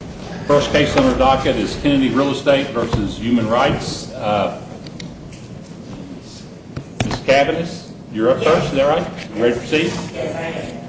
The first case on our docket is Kennedy Real Estate v. Human Rights. Ms. Kavanagh, you're up first, is that right? Ready to proceed? Yes, I am. Ms. Kavanagh, you're up.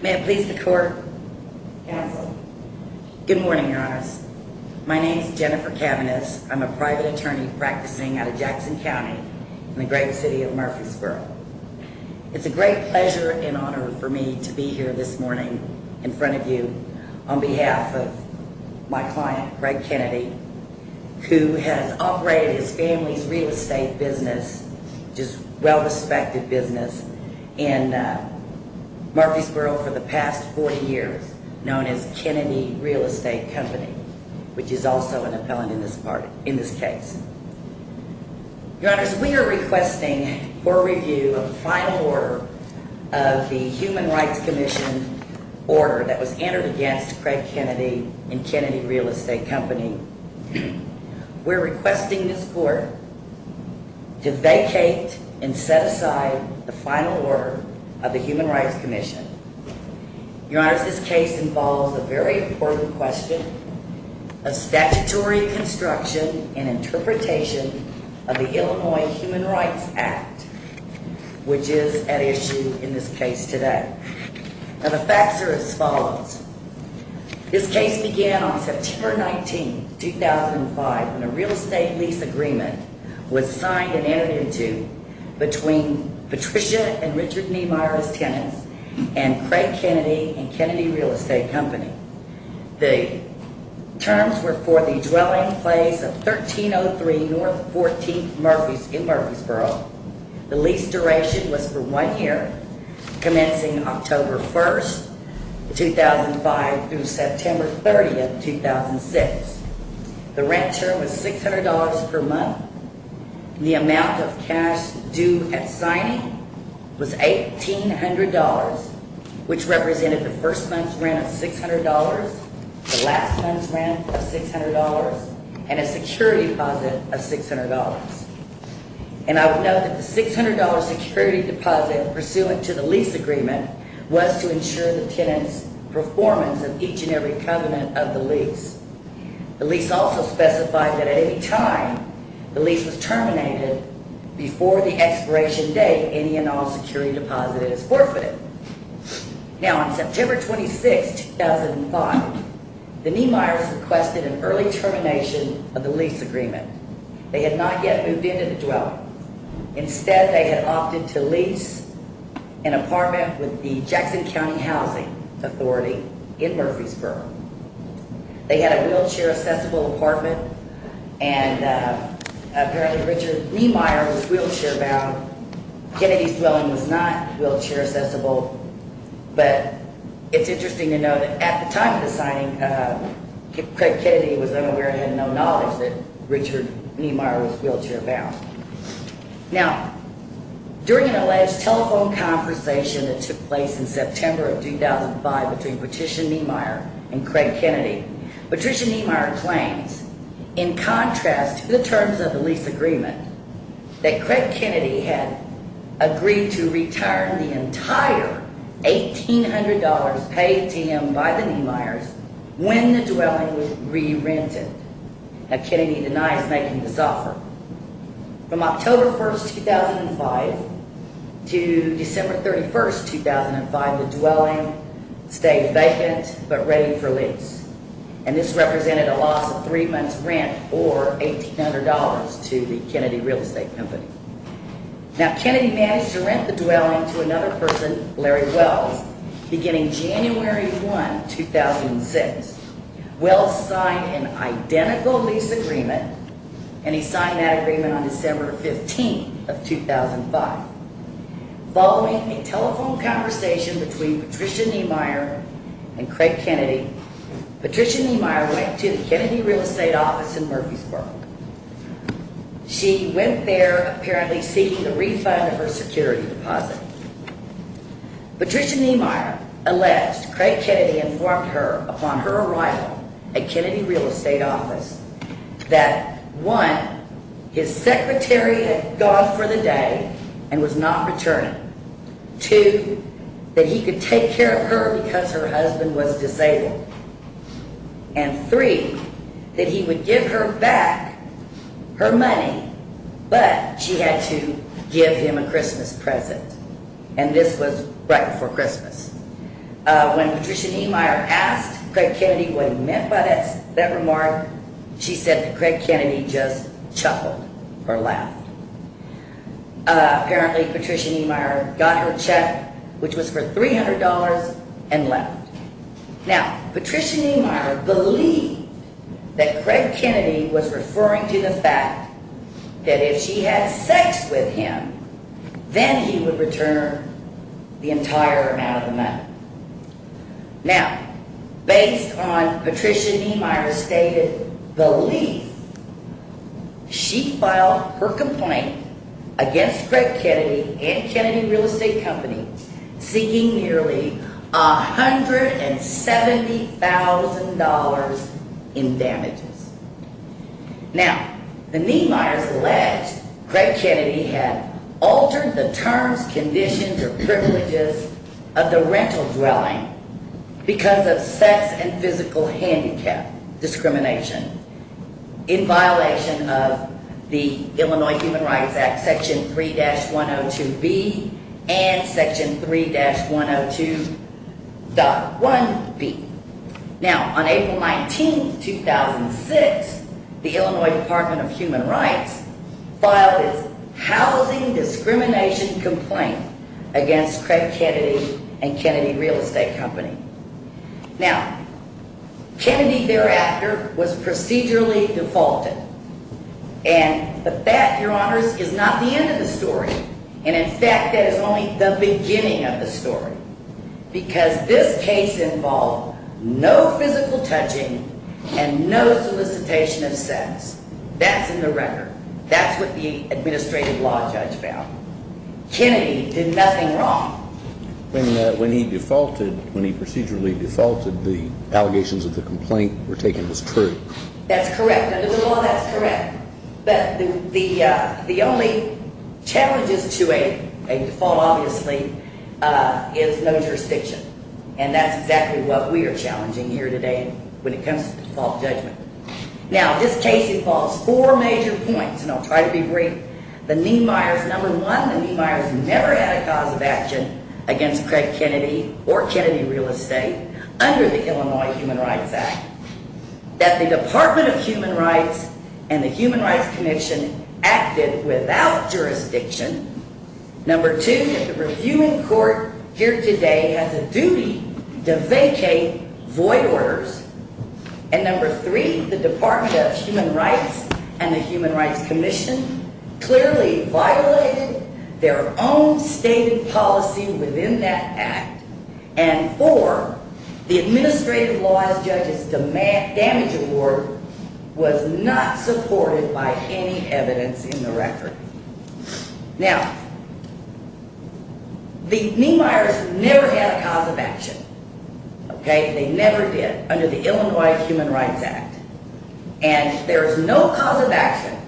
May it please the court, counsel. Good morning, your honors. My name is Jennifer Kavanagh. I'm a private attorney practicing out of Jackson County in the great city of Murfreesboro. It's a great pleasure and honor for me to be here this morning in front of you on behalf of my client, Greg Kennedy, who has operated his family's real estate business, which is a well-respected business in Murfreesboro for the past 40 years, known as Kennedy Real Estate Company, which is also an appellant in this case. Your honors, we are requesting for a review of the final order of the Human Rights Commission order that was entered against Craig Kennedy and Kennedy Real Estate Company. We're requesting this court to vacate and set aside the final order of the Human Rights Commission. Your honors, this case involves a very important question, a statutory construction and interpretation of the Illinois Human Rights Act, which is at issue in this case today. Now, the facts are as follows. This case began on September 19, 2005, when a real estate lease agreement was signed and entered into between Patricia and Richard Niemeyer as tenants and Craig Kennedy and Kennedy Real Estate Company. The terms were for the dwelling place of 1303 North 14th in Murfreesboro. The lease duration was for one year, commencing October 1, 2005, through September 30, 2006. The rent term was $600 per month. The amount of cash due at signing was $1,800, which represented the first month's rent of $600, the last month's rent of $600, and a security deposit of $600. And I would note that the $600 security deposit pursuant to the lease agreement was to ensure the tenants' performance of each and every covenant of the lease. The lease also specified that at any time the lease was terminated, before the expiration date, any and all security deposit is forfeited. Now, on September 26, 2005, the Niemeyers requested an early termination of the lease agreement. They had not yet moved into the dwelling. Instead, they had opted to lease an apartment with the Jackson County Housing Authority in Murfreesboro. They had a wheelchair-accessible apartment, and apparently Richard Niemeyer was wheelchair-bound. Kennedy's dwelling was not wheelchair-accessible. But it's interesting to note that at the time of the signing, Craig Kennedy was unaware and had no knowledge that Richard Niemeyer was wheelchair-bound. Now, during an alleged telephone conversation that took place in September of 2005 between Patricia Niemeyer and Craig Kennedy, Patricia Niemeyer claims, in contrast to the terms of the lease agreement, that Craig Kennedy had agreed to return the entire $1,800 paid to him by the Niemeyers when the dwelling was re-rented. Now, Kennedy denies making this offer. From October 1, 2005 to December 31, 2005, stayed vacant but ready for lease. And this represented a loss of three months' rent, or $1,800, to the Kennedy Real Estate Company. Now, Kennedy managed to rent the dwelling to another person, Larry Wells, beginning January 1, 2006. Wells signed an identical lease agreement, and he signed that agreement on December 15, 2005. Following a telephone conversation between Patricia Niemeyer and Craig Kennedy, Patricia Niemeyer went to the Kennedy Real Estate Office in Murfreesboro. She went there, apparently seeking the refund of her security deposit. Patricia Niemeyer alleged Craig Kennedy informed her upon her arrival at Kennedy Real Estate Office that, one, his secretary had gone for the day and was not returning, two, that he could take care of her because her husband was disabled, and three, that he would give her back her money, but she had to give him a Christmas present. And this was right before Christmas. When Patricia Niemeyer asked Craig Kennedy what he meant by that remark, she said that Craig Kennedy just chuckled, or laughed. Apparently, Patricia Niemeyer got her check, which was for $300, and left. Now, Patricia Niemeyer believed that Craig Kennedy was referring to the fact that if she had sex with him, then he would return her the entire amount of the money. Now, based on Patricia Niemeyer's stated belief, she filed her complaint against Craig Kennedy and Kennedy Real Estate Company seeking nearly $170,000 in damages. Now, the Niemeyers alleged Craig Kennedy had altered the terms, conditions, or privileges of the rental dwelling because of sex and physical handicap discrimination in violation of the Illinois Human Rights Act Section 3-102B and Section 3-102.1B. Now, on April 19, 2006, the Illinois Department of Human Rights filed its housing discrimination complaint against Craig Kennedy and Kennedy Real Estate Company. Now, Kennedy thereafter was procedurally defaulted. And that, Your Honors, is not the end of the story. And in fact, that is only the beginning of the story. Because this case involved no physical touching and no solicitation of sex. That's in the record. That's what the administrative law judge found. Kennedy did nothing wrong. When he defaulted, when he procedurally defaulted, the allegations of the complaint were taken as true. That's correct. Under the law, that's correct. But the only challenges to a default, obviously, is no jurisdiction. And that's exactly what we are challenging here today when it comes to default judgment. Now, this case involves four major points, and I'll try to be brief. The Niemeyers, number one, the Niemeyers never had a cause of action against Craig Kennedy or Kennedy Real Estate under the Illinois Human Rights Act. That the Department of Human Rights and the Human Rights Commission acted without jurisdiction. Number two, that the reviewing court here today has a duty to vacate void orders. And number three, the Department of Human Rights and the Human Rights Commission clearly violated their own stated policy within that act. And four, the administrative law judge's damage award was not supported by any evidence in the record. Now, the Niemeyers never had a cause of action. They never did under the Illinois Human Rights Act. And there's no cause of action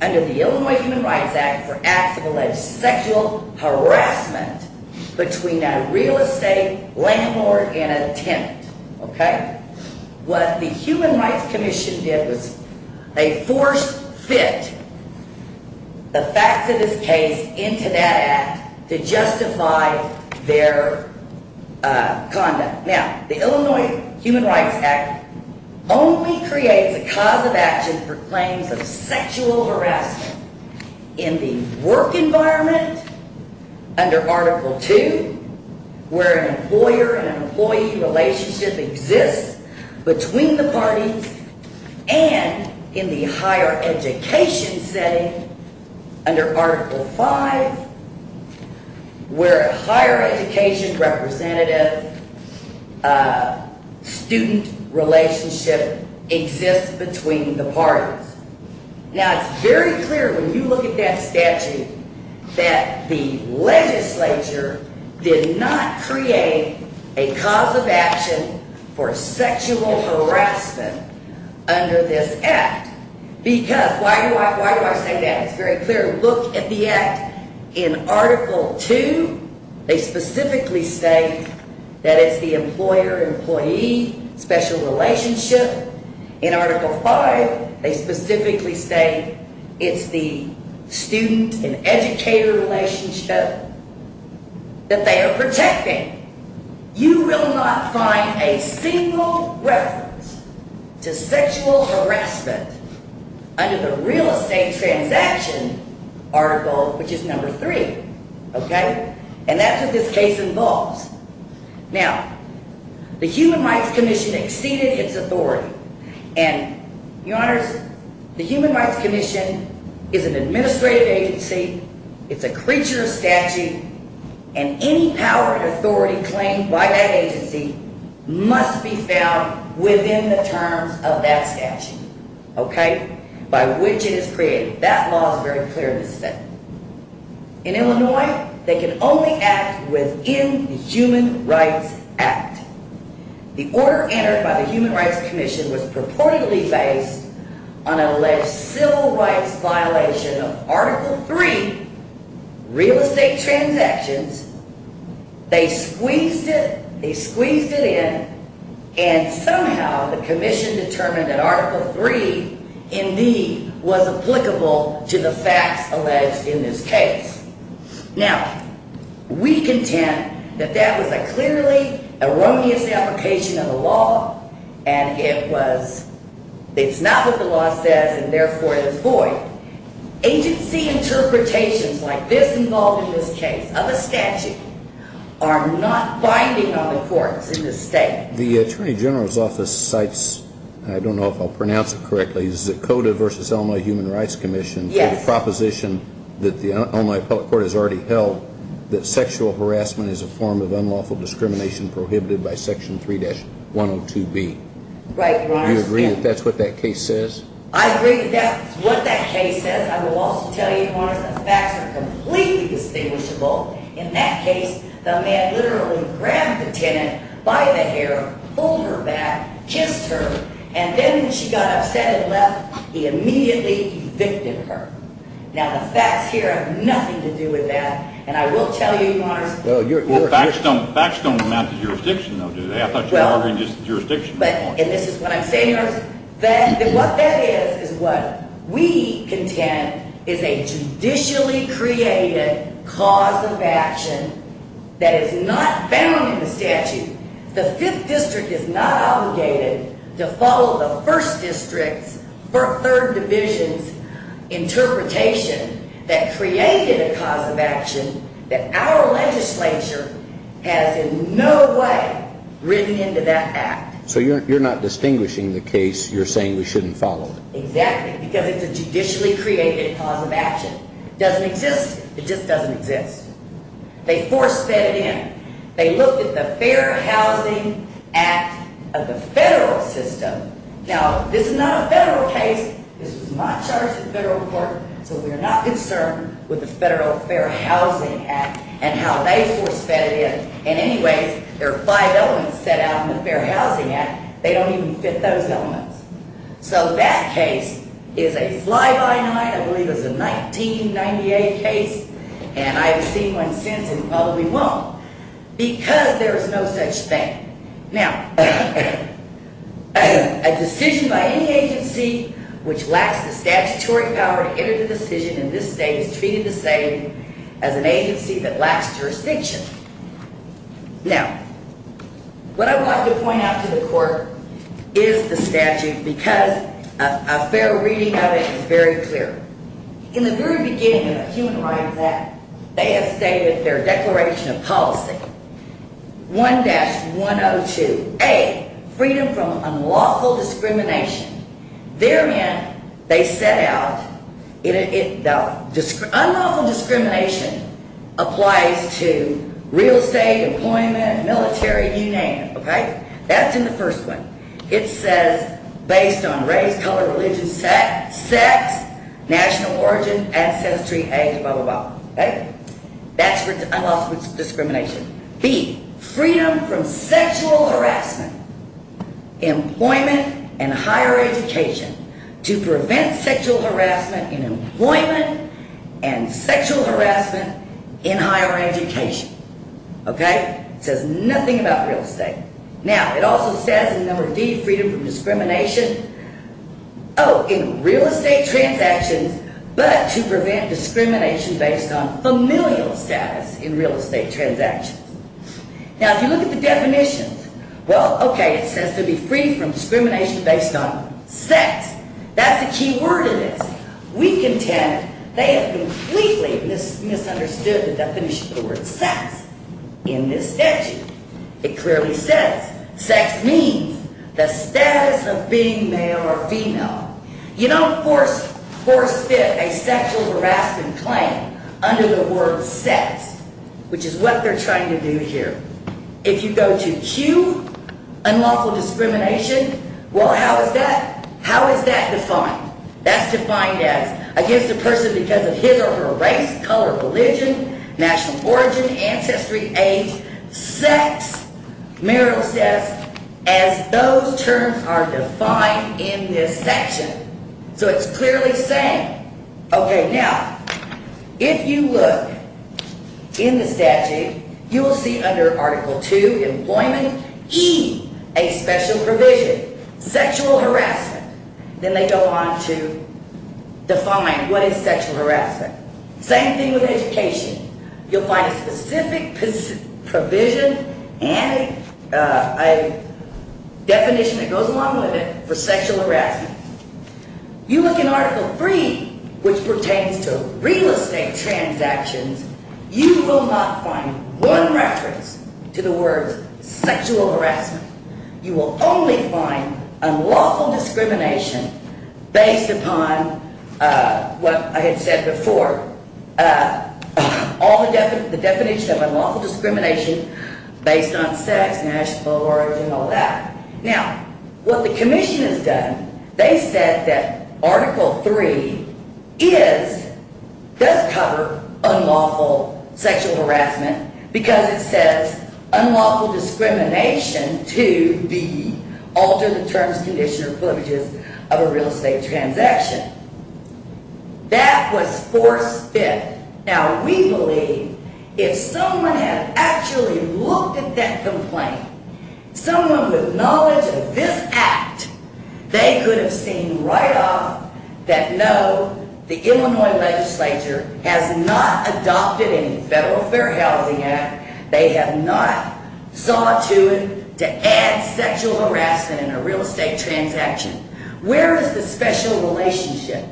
under the Illinois Human Rights Act for acts of alleged sexual harassment between a real estate landlord and a tenant. What the Human Rights Commission did was they force-fit the facts of this case into that act to justify their conduct. Now, the Illinois Human Rights Act only creates a cause of action for claims of sexual harassment in the work environment under Article II, where an employer and an employee relationship exists between the parties, and in the higher education setting under Article V, where a higher education representative-student relationship exists between the parties. Now, it's very clear when you look at that statute that the legislature did not create a cause of action for sexual harassment under this act. Because why do I say that? It's very clear. Look at the act in Article II. They specifically state that it's the employer-employee special relationship. In Article V, they specifically state it's the student and educator relationship that they are protecting. You will not find a single reference to sexual harassment under the real estate transaction article, which is Number III. Okay? And that's what this case involves. Now, the Human Rights Commission exceeded its authority. And, your honors, the Human Rights Commission is an administrative agency, it's a creature of statute, and any power and authority claimed by that agency must be found within the terms of that statute, okay, by which it is created. That law is very clear in this setting. In Illinois, they can only act within the Human Rights Act. The order entered by the Human Rights Commission was purportedly based on an alleged civil rights violation of Article III real estate transactions. They squeezed it, they squeezed it in, and somehow the commission determined that Article III indeed was applicable to the facts alleged in this case. Now, we contend that that was a clearly erroneous application of the law, and it's not what the law says, and therefore it is void. Agency interpretations like this involved in this case of a statute are not binding on the courts in this state. The Attorney General's Office cites, I don't know if I'll pronounce it correctly, the Cota v. Illinois Human Rights Commission for the proposition that the Illinois Appellate Court has already held that sexual harassment is a form of unlawful discrimination prohibited by Section 3-102B. Right, your honors. Do you agree that that's what that case says? I agree that that's what that case says. I will also tell you, your honors, the facts are completely distinguishable. In that case, the man literally grabbed the tenant by the hair, pulled her back, kissed her, and then when she got upset and left, he immediately evicted her. Now, the facts here have nothing to do with that, and I will tell you, your honors. Your facts don't amount to jurisdiction, though, do they? I thought you were arguing just jurisdiction. And this is what I'm saying, your honors. What that is is what we contend is a judicially created cause of action that is not bound in the statute. The 5th District is not obligated to follow the 1st District's or 3rd Division's interpretation that created a cause of action that our legislature has in no way written into that act. So you're not distinguishing the case. You're saying we shouldn't follow it. Exactly, because it's a judicially created cause of action. It doesn't exist. It just doesn't exist. They force-fed it in. They looked at the Fair Housing Act of the federal system. Now, this is not a federal case. This was my charge at the federal court, so we're not concerned with the Federal Fair Housing Act and how they force-fed it in. And anyways, there are five elements set out in the Fair Housing Act. They don't even fit those elements. So that case is a fly-by-night, I believe it was a 1998 case, and I've seen one since and probably won't, because there is no such thing. Now, a decision by any agency which lacks the statutory power to enter the decision in this state is treated the same as an agency that lacks jurisdiction. Now, what I want to point out to the court is the statute because a fair reading of it is very clear. In the very beginning of the Human Rights Act, they had stated their Declaration of Policy 1-102A, freedom from unlawful discrimination. Therein they set out unlawful discrimination applies to real estate, employment, military, you name it, okay? That's in the first one. It says based on race, color, religion, sex, national origin, ancestry, age, blah, blah, blah, okay? That's for unlawful discrimination. B, freedom from sexual harassment, employment, and higher education to prevent sexual harassment in employment and sexual harassment in higher education, okay? It says nothing about real estate. Now, it also says in number D, freedom from discrimination, oh, in real estate transactions, but to prevent discrimination based on familial status in real estate transactions. Now, if you look at the definitions, well, okay, it says to be free from discrimination based on sex. That's the key word in this. We contend they have completely misunderstood the definition of the word sex in this statute. It clearly says sex means the status of being male or female. You don't force fit a sexual harassment claim under the word sex, which is what they're trying to do here. If you go to Q, unlawful discrimination, well, how is that defined? That's defined as against a person because of his or her race, color, religion, national origin, ancestry, age, sex. Merrill says as those terms are defined in this section, so it's clearly saying. Okay, now, if you look in the statute, you will see under Article II, employment, E, a special provision, sexual harassment. Then they go on to define what is sexual harassment. Same thing with education. You'll find a specific provision and a definition that goes along with it for sexual harassment. You look in Article III, which pertains to real estate transactions, you will not find one reference to the words sexual harassment. You will only find unlawful discrimination based upon what I had said before, the definition of unlawful discrimination based on sex, national origin, all that. Now, what the commission has done, they said that Article III does cover unlawful sexual harassment because it says unlawful discrimination to alter the terms, conditions, or privileges of a real estate transaction. That was forced fit. Now, we believe if someone had actually looked at that complaint, someone with knowledge of this act, they could have seen right off that no, the Illinois legislature has not adopted any Federal Fair Housing Act. They have not saw to it to add sexual harassment in a real estate transaction. Where is the special relationship?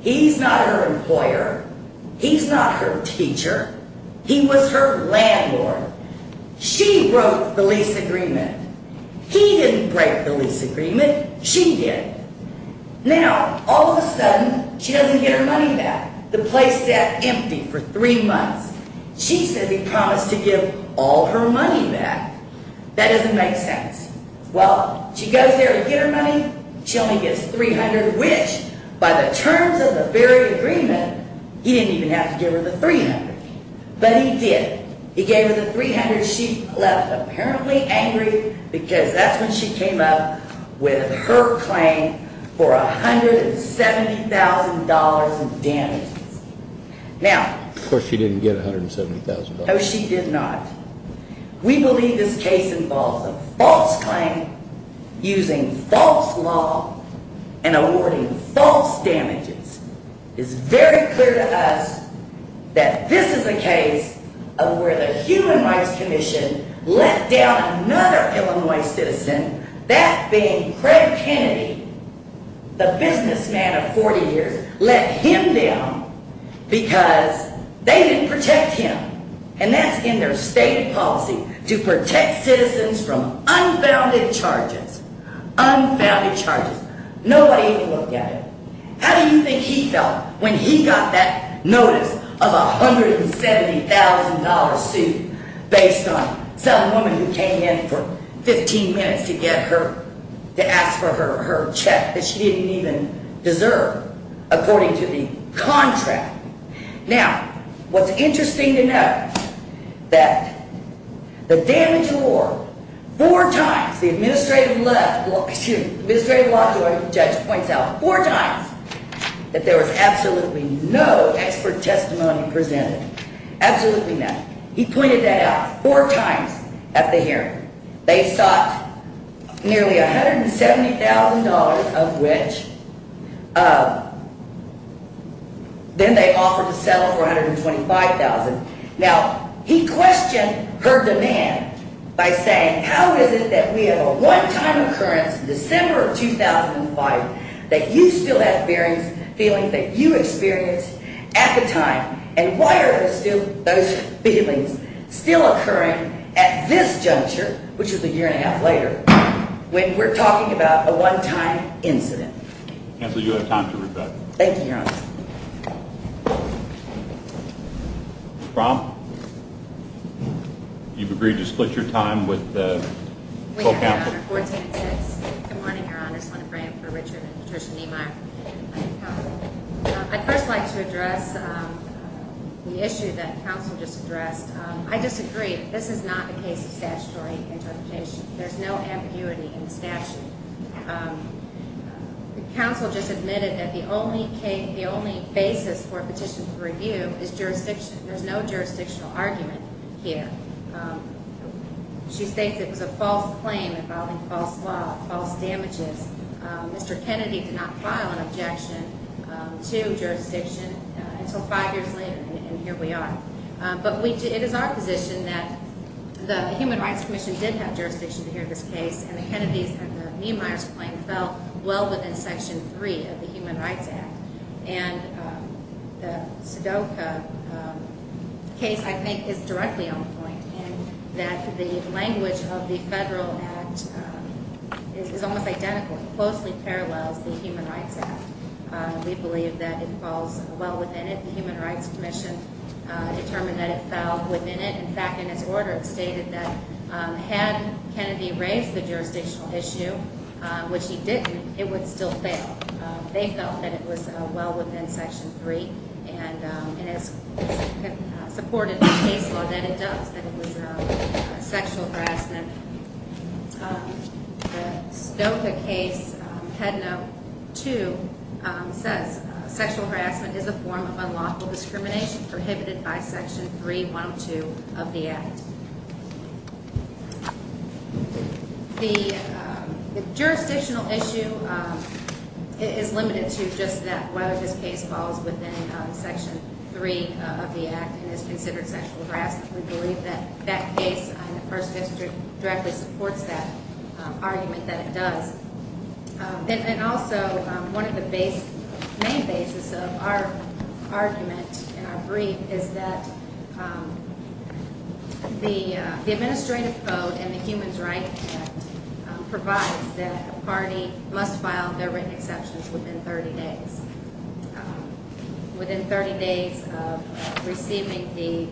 He's not her employer. He's not her teacher. He was her landlord. She wrote the lease agreement. He didn't break the lease agreement. She did. Now, all of a sudden, she doesn't get her money back. The place sat empty for three months. She says he promised to give all her money back. That doesn't make sense. Well, she goes there to get her money. She only gets $300, which, by the terms of the very agreement, he didn't even have to give her the $300. But he did. He gave her the $300. She left apparently angry because that's when she came up with her claim for $170,000 in damages. Of course, she didn't get $170,000. No, she did not. We believe this case involves a false claim using false law and awarding false damages. It's very clear to us that this is a case of where the Human Rights Commission let down another Illinois citizen, that being Craig Kennedy, the businessman of 40 years, let him down because they didn't protect him. And that's in their stated policy to protect citizens from unfounded charges. Unfounded charges. Nobody even looked at it. How do you think he felt when he got that notice of a $170,000 suit based on some woman who came in for 15 minutes to ask for her check that she didn't even deserve according to the contract? Now, what's interesting to note, that the damage award, four times, the administrative law judge points out, four times, that there was absolutely no expert testimony presented. Absolutely nothing. He pointed that out four times at the hearing. They sought nearly $170,000 of which then they offered to settle for $125,000. Now, he questioned her demand by saying, how is it that we have a one-time occurrence in December of 2005 that you still have feelings that you experienced at the time, and why are those feelings still occurring at this juncture, which is a year and a half later, when we're talking about a one-time incident? Counsel, you have time to reflect. Thank you, Your Honor. Ms. Brown, you've agreed to split your time with the full counsel. Good morning, Your Honor. I just want to pray for Richard and Patricia Niemeyer. I'd first like to address the issue that counsel just addressed. I disagree. This is not a case of statutory interpretation. There's no ambiguity in the statute. Counsel just admitted that the only basis for a petition for review is jurisdiction. There's no jurisdictional argument here. She states it was a false claim involving false law, false damages. Mr. Kennedy did not file an objection to jurisdiction until five years later, and here we are. But it is our position that the Human Rights Commission did have jurisdiction to hear this case, and the Kennedys and the Niemeyers claim fell well within Section 3 of the Human Rights Act. And the Sudoka case, I think, is directly on point in that the language of the federal act is almost identical. It closely parallels the Human Rights Act. We believe that it falls well within it. The Human Rights Commission determined that it fell within it. In fact, in its order, it stated that had Kennedy raised the jurisdictional issue, which he didn't, it would still fail. They felt that it was well within Section 3, and it supported the case law that it does, that it was sexual harassment. The Sudoka case, Head Note 2, says sexual harassment is a form of unlawful discrimination prohibited by Section 3.102 of the act. The jurisdictional issue is limited to just that, whether this case falls within Section 3 of the act and is considered sexual harassment. We believe that that case in the First District directly supports that argument that it does. And also, one of the main bases of our argument in our brief is that the administrative code in the Human Rights Act provides that a party must file their written exceptions within 30 days, within 30 days of receiving the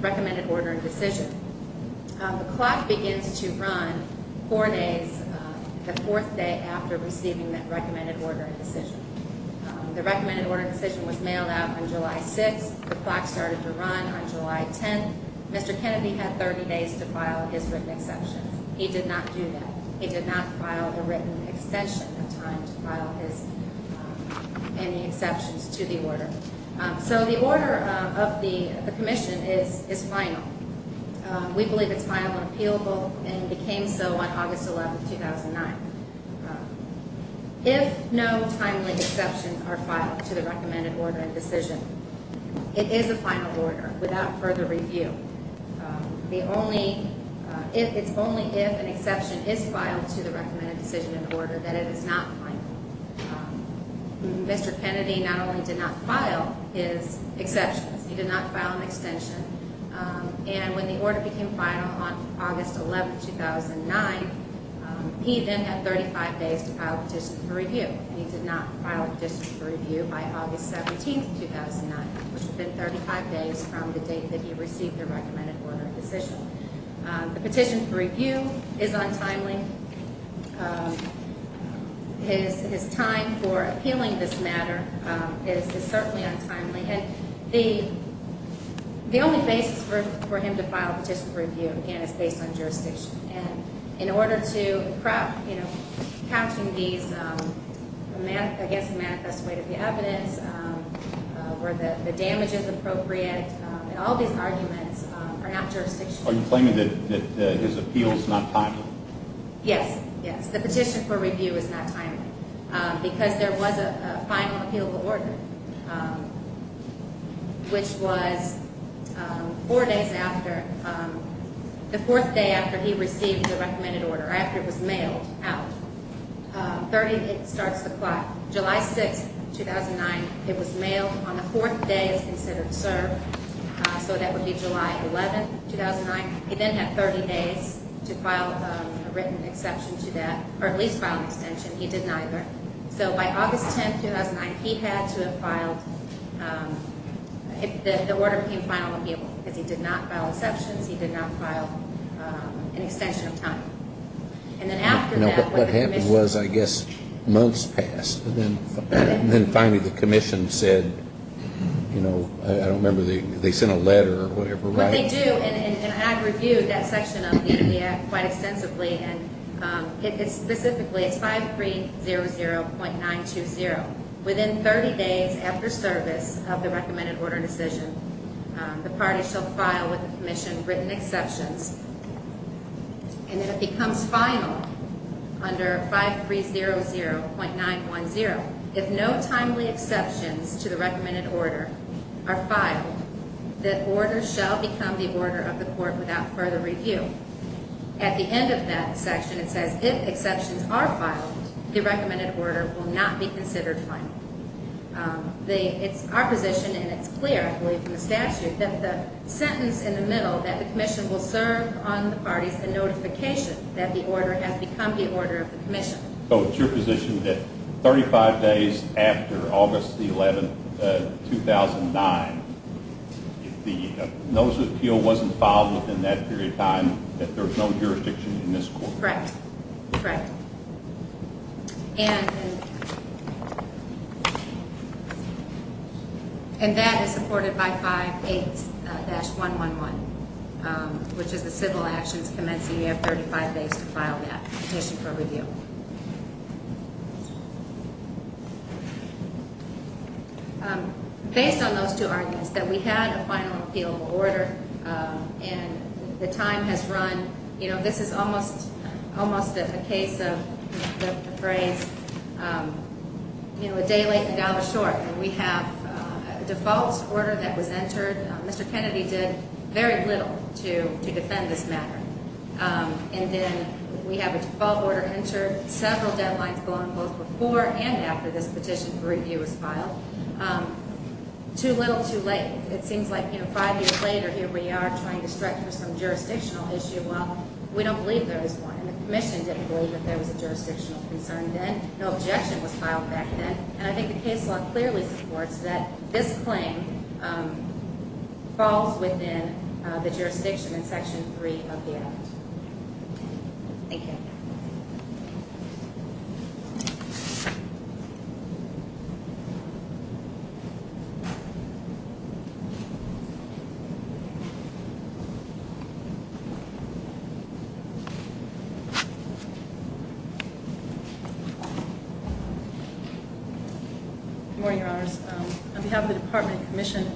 recommended order and decision. The clock begins to run four days, the fourth day after receiving the recommended order and decision. The recommended order and decision was mailed out on July 6th. The clock started to run on July 10th. Mr. Kennedy had 30 days to file his written exceptions. He did not do that. He did not file a written extension of time to file any exceptions to the order. So the order of the commission is final. We believe it's final and appealable and it became so on August 11th, 2009. If no timely exceptions are filed to the recommended order and decision, it is a final order without further review. It's only if an exception is filed to the recommended decision and order that it is not final. Mr. Kennedy not only did not file his exceptions, he did not file an extension. And when the order became final on August 11th, 2009, he then had 35 days to file a petition for review. He did not file a petition for review by August 17th, 2009, which would have been 35 days from the date that he received the recommended order and decision. The petition for review is untimely. His time for appealing this matter is certainly untimely. And the only basis for him to file a petition for review, again, is based on jurisdiction. And in order to, you know, catching these, I guess, manifest way to the evidence, where the damage is appropriate, all these arguments are not jurisdictional. Are you claiming that his appeal is not timely? Yes. Yes. The petition for review is not timely. Because there was a final appeal order, which was four days after, the fourth day after he received the recommended order, after it was mailed out. 30, it starts the clock. July 6th, 2009, it was mailed on the fourth day it was considered served. So that would be July 11th, 2009. He then had 30 days to file a written exception to that, or at least file an extension. He did neither. So by August 10th, 2009, he had to have filed, the order became final appeal, because he did not file exceptions. He did not file an extension of time. What happened was, I guess, months passed, and then finally the commission said, you know, I don't remember, they sent a letter or whatever. What they do, and I've reviewed that section of the ADF quite extensively, and it's specifically, it's 5300.920. Within 30 days after service of the recommended order and decision, the party shall file with the commission written exceptions. And then it becomes final under 5300.910. If no timely exceptions to the recommended order are filed, that order shall become the order of the court without further review. At the end of that section, it says, if exceptions are filed, the recommended order will not be considered final. It's our position, and it's clear, I believe, in the statute, that the sentence in the middle, that the commission will serve on the parties, the notification that the order has become the order of the commission. So it's your position that 35 days after August 11th, 2009, if the notice of appeal wasn't filed within that period of time, that there was no jurisdiction in this court? Correct. Correct. And that is supported by 58-111, which is the civil actions commencing. You have 35 days to file that petition for review. Based on those two arguments, that we had a final appeal order, and the time has run, you know, this is almost a case of the phrase, you know, a day late and a dollar short. And we have a default order that was entered. Mr. Kennedy did very little to defend this matter. And then we have a default order entered, several deadlines going both before and after this petition for review was filed. Too little, too late. It seems like, you know, five years later, here we are trying to strike for some jurisdictional issue. Well, we don't believe there was one, and the commission didn't believe that there was a jurisdictional concern then. No objection was filed back then. And I think the case law clearly supports that this claim falls within the jurisdiction in Section 3 of the act. Thank you. Good morning, Your Honors. On behalf of the Department of Commission,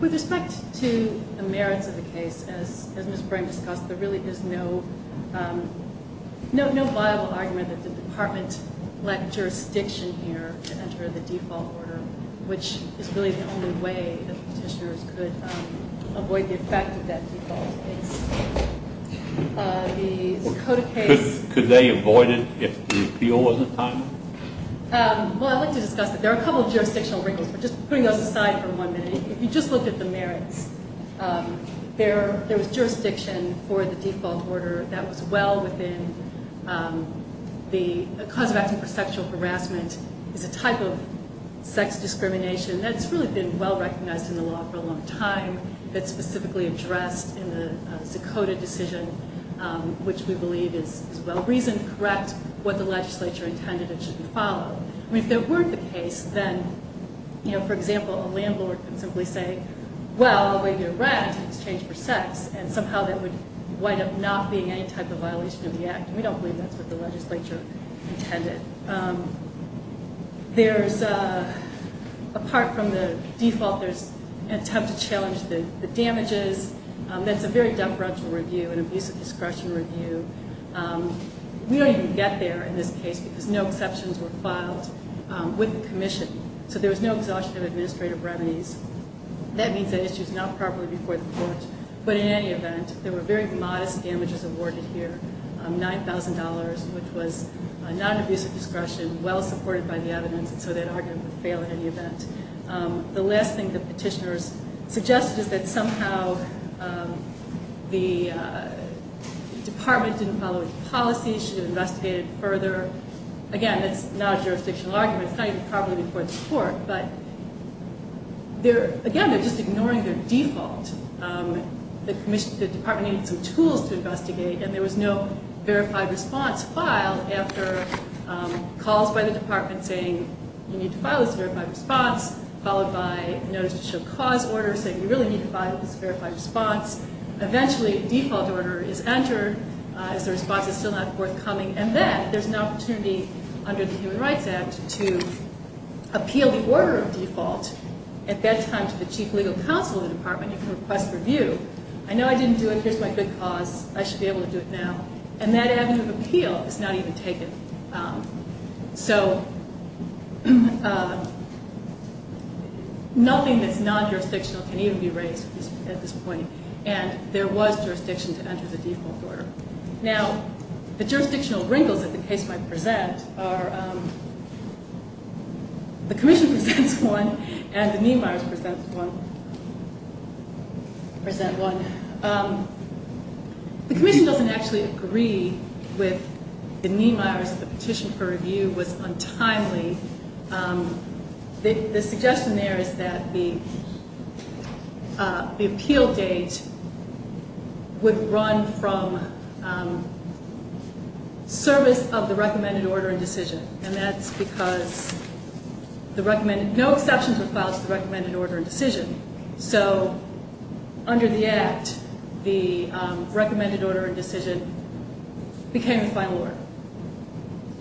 with respect to the merits of the case, as Ms. Brame discussed, there really is no viable argument that the department let jurisdiction here to enter the default order, which is really the only way that petitioners could avoid the effect of that default case. Could they avoid it if the appeal wasn't timed? Well, I'd like to discuss it. There are a couple of jurisdictional wrinkles, but just putting those aside for one minute. If you just look at the merits, there was jurisdiction for the default order that was well within the cause of action for sexual harassment. It's a type of sex discrimination that's really been well recognized in the law for a long time, that's specifically addressed in the Zacoda decision, which we believe is well-reasoned, correct, what the legislature intended it should follow. I mean, if that weren't the case, then, you know, for example, a landlord could simply say, well, the way you're wrapped, it's changed for sex, and somehow that would wind up not being any type of violation of the act. We don't believe that's what the legislature intended. There's, apart from the default, there's an attempt to challenge the damages. That's a very deferential review, an abusive discretion review. We don't even get there in this case because no exceptions were filed with the commission, so there was no exhaustion of administrative remedies. That means that issue is not properly before the court, but in any event, there were very modest damages awarded here, $9,000, which was a non-abusive discretion, well-supported by the evidence, and so that argument would fail in any event. The last thing the petitioners suggested is that somehow the department didn't follow its policy, should have investigated it further. Again, that's not a jurisdictional argument. It's not even properly before the court, but again, they're just ignoring their default. The department needed some tools to investigate, and there was no verified response filed after calls by the department saying you need to file this verified response, followed by notice to show cause order saying you really need to file this verified response. Eventually, a default order is entered as the response is still not forthcoming, and then there's an opportunity under the Human Rights Act to appeal the order of default. At that time, to the chief legal counsel of the department, you can request review. I know I didn't do it. Here's my good cause. I should be able to do it now, and that avenue of appeal is not even taken. So nothing that's non-jurisdictional can even be raised at this point, and there was jurisdiction to enter the default order. Now, the jurisdictional wrinkles that the case might present are the commission presents one and the Niemeyers present one. The commission doesn't actually agree with the Niemeyers that the petition for review was untimely. The suggestion there is that the appeal date would run from service of the recommended order and decision, and that's because no exceptions were filed to the recommended order and decision. So under the Act, the recommended order and decision became the final order,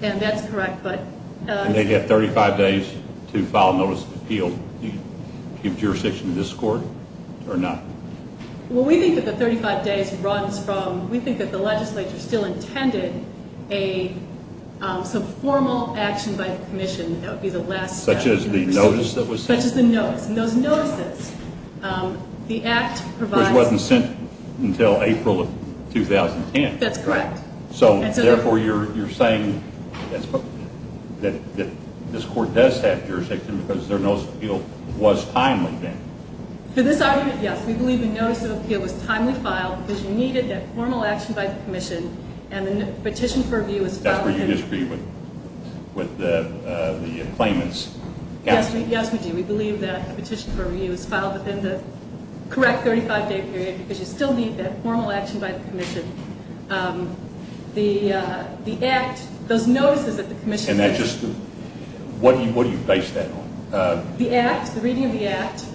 and that's correct. And they'd have 35 days to file a notice of appeal to jurisdiction of this court or not? Well, we think that the 35 days runs from we think that the legislature still intended some formal action by the commission. That would be the last step. Such as the notice that was sent? Such as the notice, and those notices, the Act provides. Which wasn't sent until April of 2010. That's correct. So, therefore, you're saying that this court does have jurisdiction because their notice of appeal was timely then? For this argument, yes. We believe the notice of appeal was timely filed because you needed that formal action by the commission, and the petition for review was filed within. That's where you disagree with the claimants? Yes, we do. We believe that the petition for review was filed within the correct 35-day period because you still need that formal action by the commission. The Act, those notices that the commission. And that's just, what do you base that on? The Act, the reading of the Act.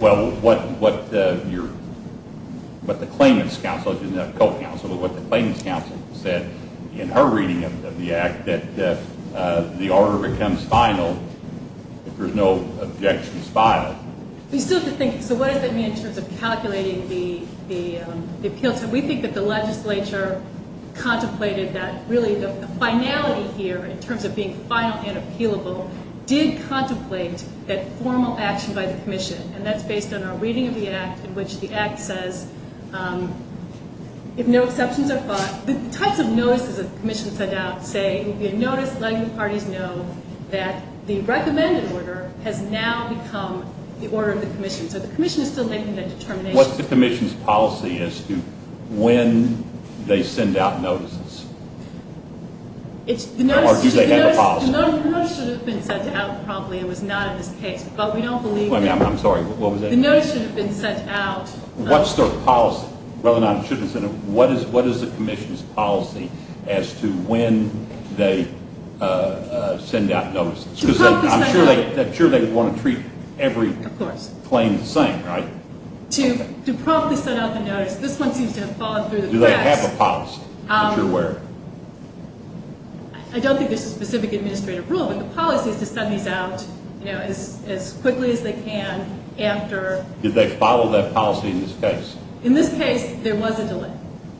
Well, what the claimant's counsel, not the co-counsel, but what the claimant's counsel said in her reading of the Act, that the order becomes final if there's no objections filed. We still have to think, so what does that mean in terms of calculating the appeals? We think that the legislature contemplated that really the finality here in terms of being final and appealable did contemplate that formal action by the commission, and that's based on our reading of the Act in which the Act says if no exceptions are filed. The types of notices that the commission sent out say, letting the parties know that the recommended order has now become the order of the commission. So the commission is still making that determination. What's the commission's policy as to when they send out notices? Or do they have a policy? The notice should have been sent out probably. It was not in this case, but we don't believe that. I'm sorry, what was that? The notice should have been sent out. What's their policy? What is the commission's policy as to when they send out notices? I'm sure they would want to treat every claim the same, right? To promptly send out the notice. This one seems to have fallen through the cracks. Do they have a policy? I'm not sure where. I don't think there's a specific administrative rule, but the policy is to send these out as quickly as they can after. Did they follow that policy in this case? In this case, there was a delay.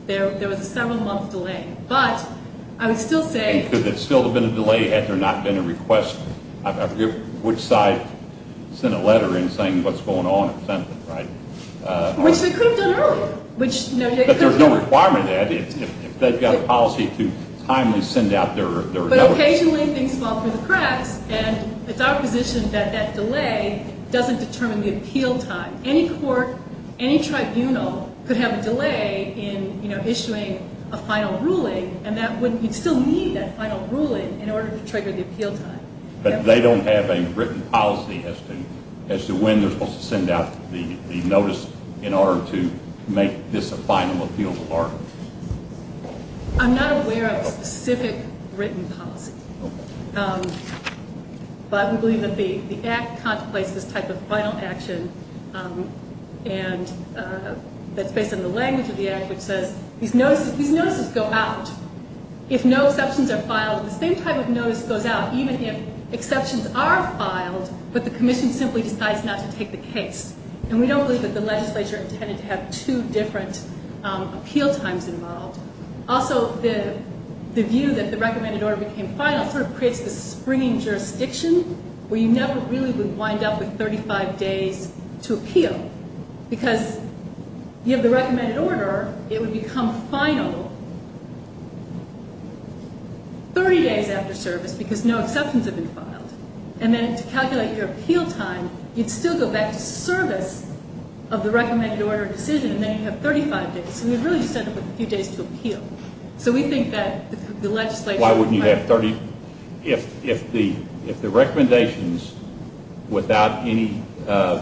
There was a several-month delay, but I would still say... And could there still have been a delay had there not been a request? I forget which side sent a letter in saying what's going on. Which they could have done earlier. But there's no requirement of that. If they've got a policy to timely send out their notice. But occasionally things fall through the cracks, and it's our position that that delay doesn't determine the appeal time. Any court, any tribunal could have a delay in issuing a final ruling, and you'd still need that final ruling in order to trigger the appeal time. But they don't have a written policy as to when they're supposed to send out the notice in order to make this a final appeal of arguments? I'm not aware of a specific written policy. But we believe that the Act contemplates this type of final action that's based on the language of the Act, which says these notices go out. If no exceptions are filed, the same type of notice goes out, even if exceptions are filed, but the Commission simply decides not to take the case. And we don't believe that the legislature intended to have two different appeal times involved. Also, the view that the recommended order became final sort of creates this springing jurisdiction where you never really would wind up with 35 days to appeal, because you have the recommended order, it would become final 30 days after service because no exceptions have been filed. And then to calculate your appeal time, you'd still go back to service of the recommended order decision, and then you'd have 35 days. So we'd really just end up with a few days to appeal. So we think that the legislature... Why wouldn't you have 30? If the recommendations without any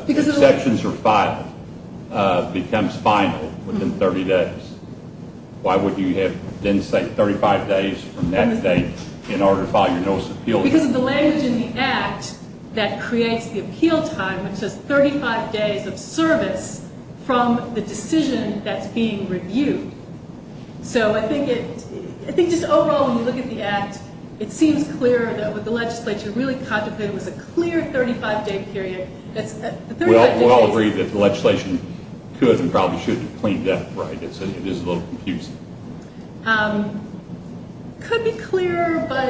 exceptions are filed becomes final within 30 days, why wouldn't you have, then, say, 35 days from that date in order to file your notice of appeal? Because of the language in the Act that creates the appeal time, it says 35 days of service from the decision that's being reviewed. So I think just overall when you look at the Act, it seems clear that what the legislature really contemplated was a clear 35-day period. We all agree that the legislation could and probably should have cleaned up, right? It is a little confusing. It could be clearer, but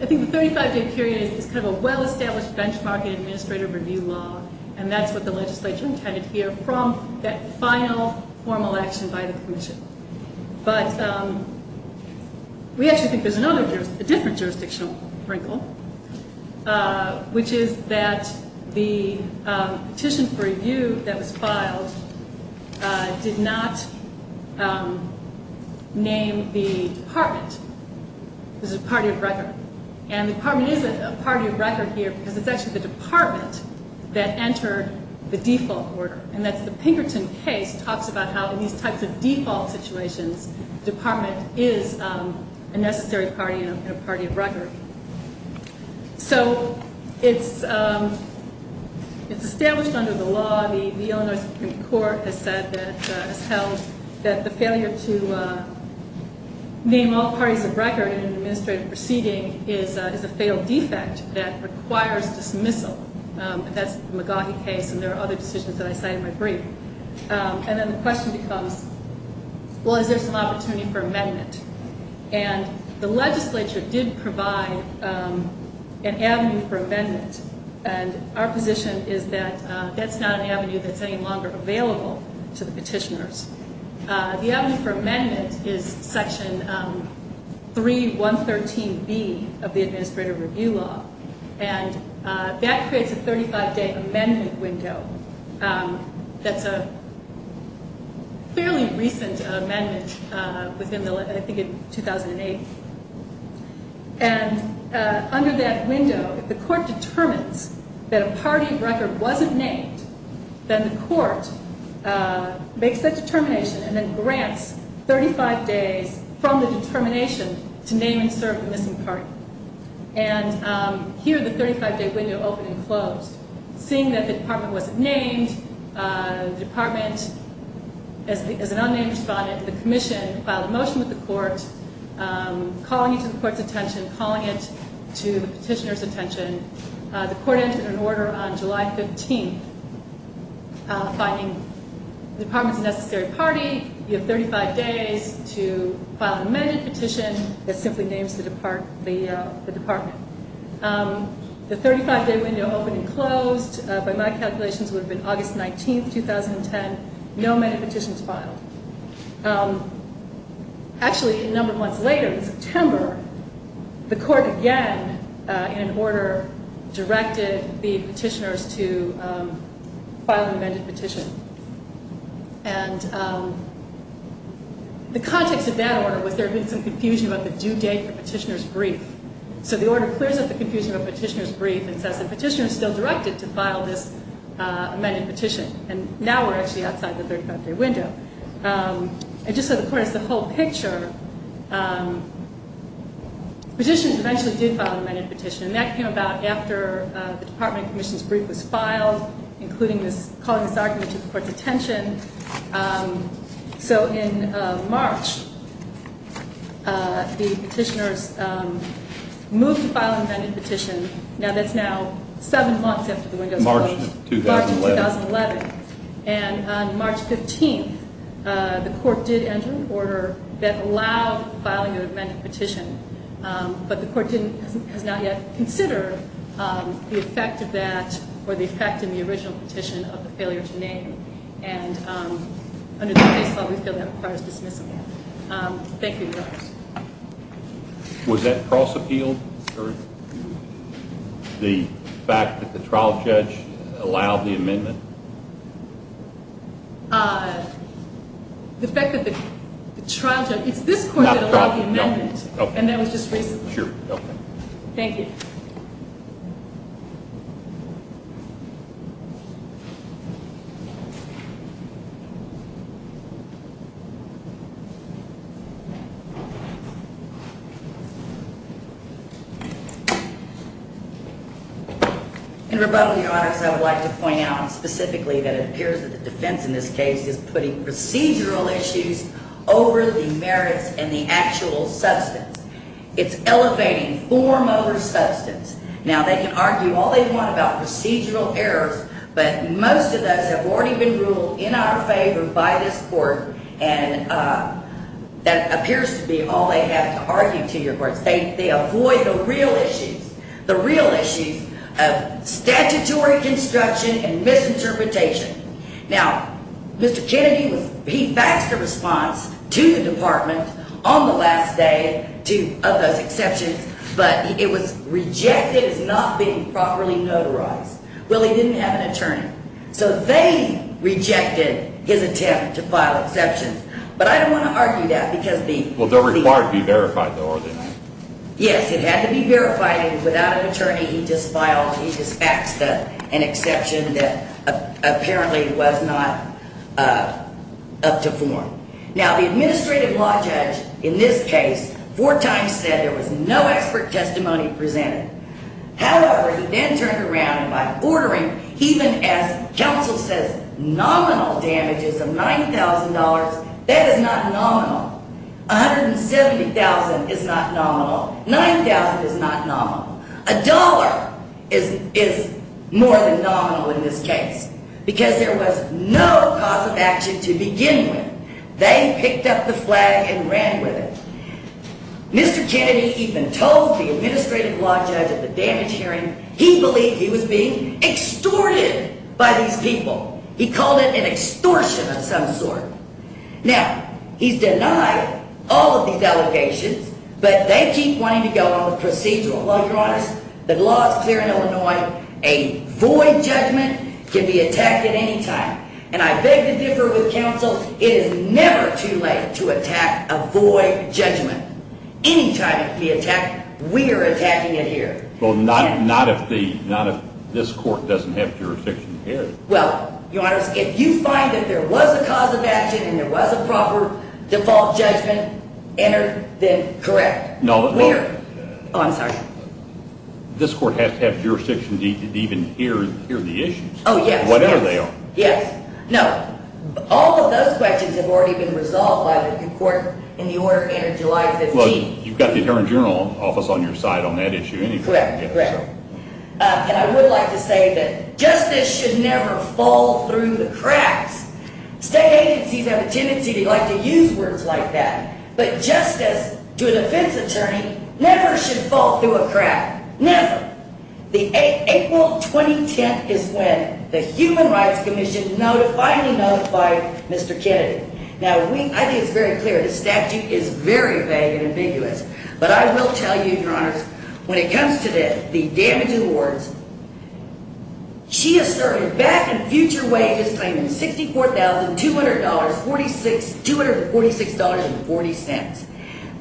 I think the 35-day period is kind of a well-established benchmark in administrative review law, and that's what the legislature intended here from that final formal action by the Commission. But we actually think there's a different jurisdictional wrinkle, which is that the petition for review that was filed did not name the department. It was a party of record. And the department is a party of record here because it's actually the department that entered the default order, and that's the Pinkerton case talks about how in these types of default situations, the department is a necessary party and a party of record. So it's established under the law. The Illinois Supreme Court has said that it's held that the failure to name all parties of record in an administrative proceeding is a failed defect that requires dismissal. That's the McGaughy case, and there are other decisions that I cite in my brief. And then the question becomes, well, is there some opportunity for amendment? And the legislature did provide an avenue for amendment, and our position is that that's not an avenue that's any longer available to the petitioners. The avenue for amendment is Section 3113B of the Administrative Review Law, and that creates a 35-day amendment window. That's a fairly recent amendment within, I think, 2008. And under that window, if the court determines that a party of record wasn't named, then the court makes that determination and then grants 35 days from the determination to name and serve the missing party. And here, the 35-day window opened and closed. Seeing that the department wasn't named, the department, as an unnamed respondent, the commission filed a motion with the court, calling it to the court's attention, calling it to the petitioner's attention. The court entered an order on July 15th, finding the department's a necessary party. You have 35 days to file an amended petition that simply names the department. The 35-day window opened and closed. By my calculations, it would have been August 19th, 2010. No amended petitions filed. Actually, a number of months later, in September, the court again, in an order, directed the petitioners to file an amended petition. And the context of that order was there had been some confusion about the due date for petitioner's brief. So the order clears up the confusion about petitioner's brief and says the petitioner is still directed to file this amended petition. And now we're actually outside the 35-day window. And just so the court has the whole picture, petitioners eventually did file an amended petition, and that came about after the department commission's brief was filed, including calling this argument to the court's attention. So in March, the petitioners moved to file an amended petition. Now, that's now seven months after the window's closed. March of 2011. March of 2011. And on March 15th, the court did enter an order that allowed filing of an amended petition. But the court has not yet considered the effect of that or the effect in the original petition of the failure to name. And under this case law, we feel that requires dismissal. Thank you. Was that cross-appealed? The fact that the trial judge allowed the amendment? The fact that the trial judge. It's this court that allowed the amendment, and that was just recently. Thank you. In rebuttal, Your Honors, I would like to point out specifically that it appears that the defense in this case is putting procedural issues over the merits and the actual substance. It's elevating form over substance. Now, they can argue all they want about procedural errors, but most of those have already been ruled in our favor by this court, and that appears to be all they have to argue to your courts. They avoid the real issues, the real issues of statutory construction and misinterpretation. Now, Mr. Kennedy, he faxed a response to the department on the last day of those exceptions, but it was rejected as not being properly notarized. Well, he didn't have an attorney. So they rejected his attempt to file exceptions. But I don't want to argue that because the- Well, they're required to be verified, though, are they not? Yes, it had to be verified, and without an attorney, he just faxed an exception that apparently was not up to form. Now, the administrative law judge in this case four times said there was no expert testimony presented. However, he then turned around and by ordering, even as counsel says nominal damages of $9,000, that is not nominal. $170,000 is not nominal. $9,000 is not nominal. A dollar is more than nominal in this case because there was no cause of action to begin with. They picked up the flag and ran with it. Mr. Kennedy even told the administrative law judge at the damage hearing he believed he was being extorted by these people. He called it an extortion of some sort. Now, he's denied all of these allegations, but they keep wanting to go on with procedural. While you're honest, the law is clear in Illinois. A void judgment can be attacked at any time, and I beg to differ with counsel. It is never too late to attack a void judgment. Any time it can be attacked, we are attacking it here. Well, not if this court doesn't have jurisdiction here. Well, your Honor, if you find that there was a cause of action and there was a proper default judgment entered, then correct. We are. Oh, I'm sorry. This court has to have jurisdiction to even hear the issues. Oh, yes. Whatever they are. Yes. No. All of those questions have already been resolved by the new court in the order entered July 15th. Well, you've got the Attorney General's Office on your side on that issue anyway. Correct. And I would like to say that justice should never fall through the cracks. State agencies have a tendency to like to use words like that, but justice to a defense attorney never should fall through a crack. Never. Your Honor, April 2010 is when the Human Rights Commission finally notified Mr. Kennedy. Now, I think it's very clear the statute is very vague and ambiguous, but I will tell you, Your Honors, when it comes to the damaging words, she is serving back and future wages claiming $64,246.40.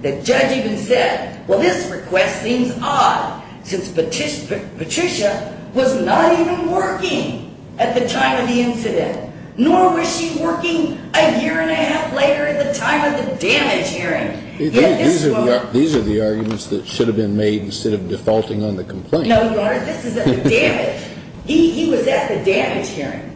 The judge even said, well, this request seems odd, since Patricia was not even working at the time of the incident, nor was she working a year and a half later at the time of the damage hearing. These are the arguments that should have been made instead of defaulting on the complaint. No, Your Honor, this is at the damage. He was at the damage hearing.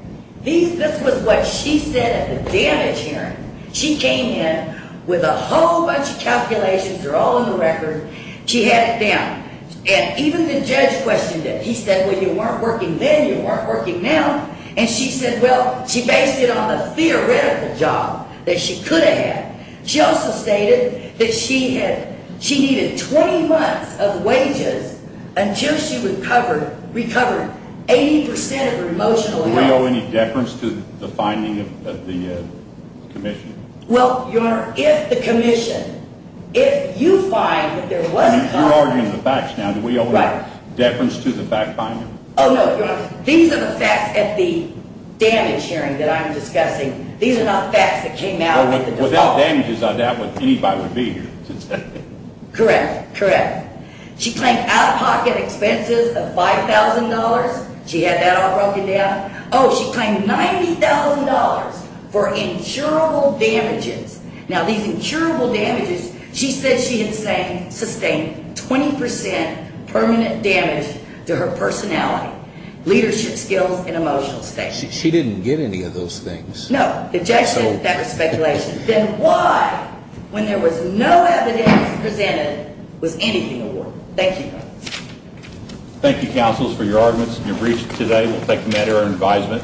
This was what she said at the damage hearing. She came in with a whole bunch of calculations. They're all in the record. She had it down. And even the judge questioned it. He said, well, you weren't working then. You weren't working now. And she said, well, she based it on the theoretical job that she could have had. She also stated that she needed 20 months of wages until she recovered 80% of her emotional health. Do we owe any deference to the finding of the commission? Well, Your Honor, if the commission, if you find that there was a complaint. You're arguing the facts now. Do we owe any deference to the fact finding? Oh, no, Your Honor. These are the facts at the damage hearing that I'm discussing. These are not facts that came out at the default. Without damages, I doubt anybody would be here today. Correct, correct. She claimed out-of-pocket expenses of $5,000. She had that all broken down. Oh, she claimed $90,000 for insurable damages. Now, these insurable damages, she said she had sustained 20% permanent damage to her personality, leadership skills, and emotional state. She didn't get any of those things. No. The judge said that was speculation. Then why, when there was no evidence presented, was anything awarded? Thank you. Thank you, counsels, for your arguments and your briefs today. We'll take a matter in advisement.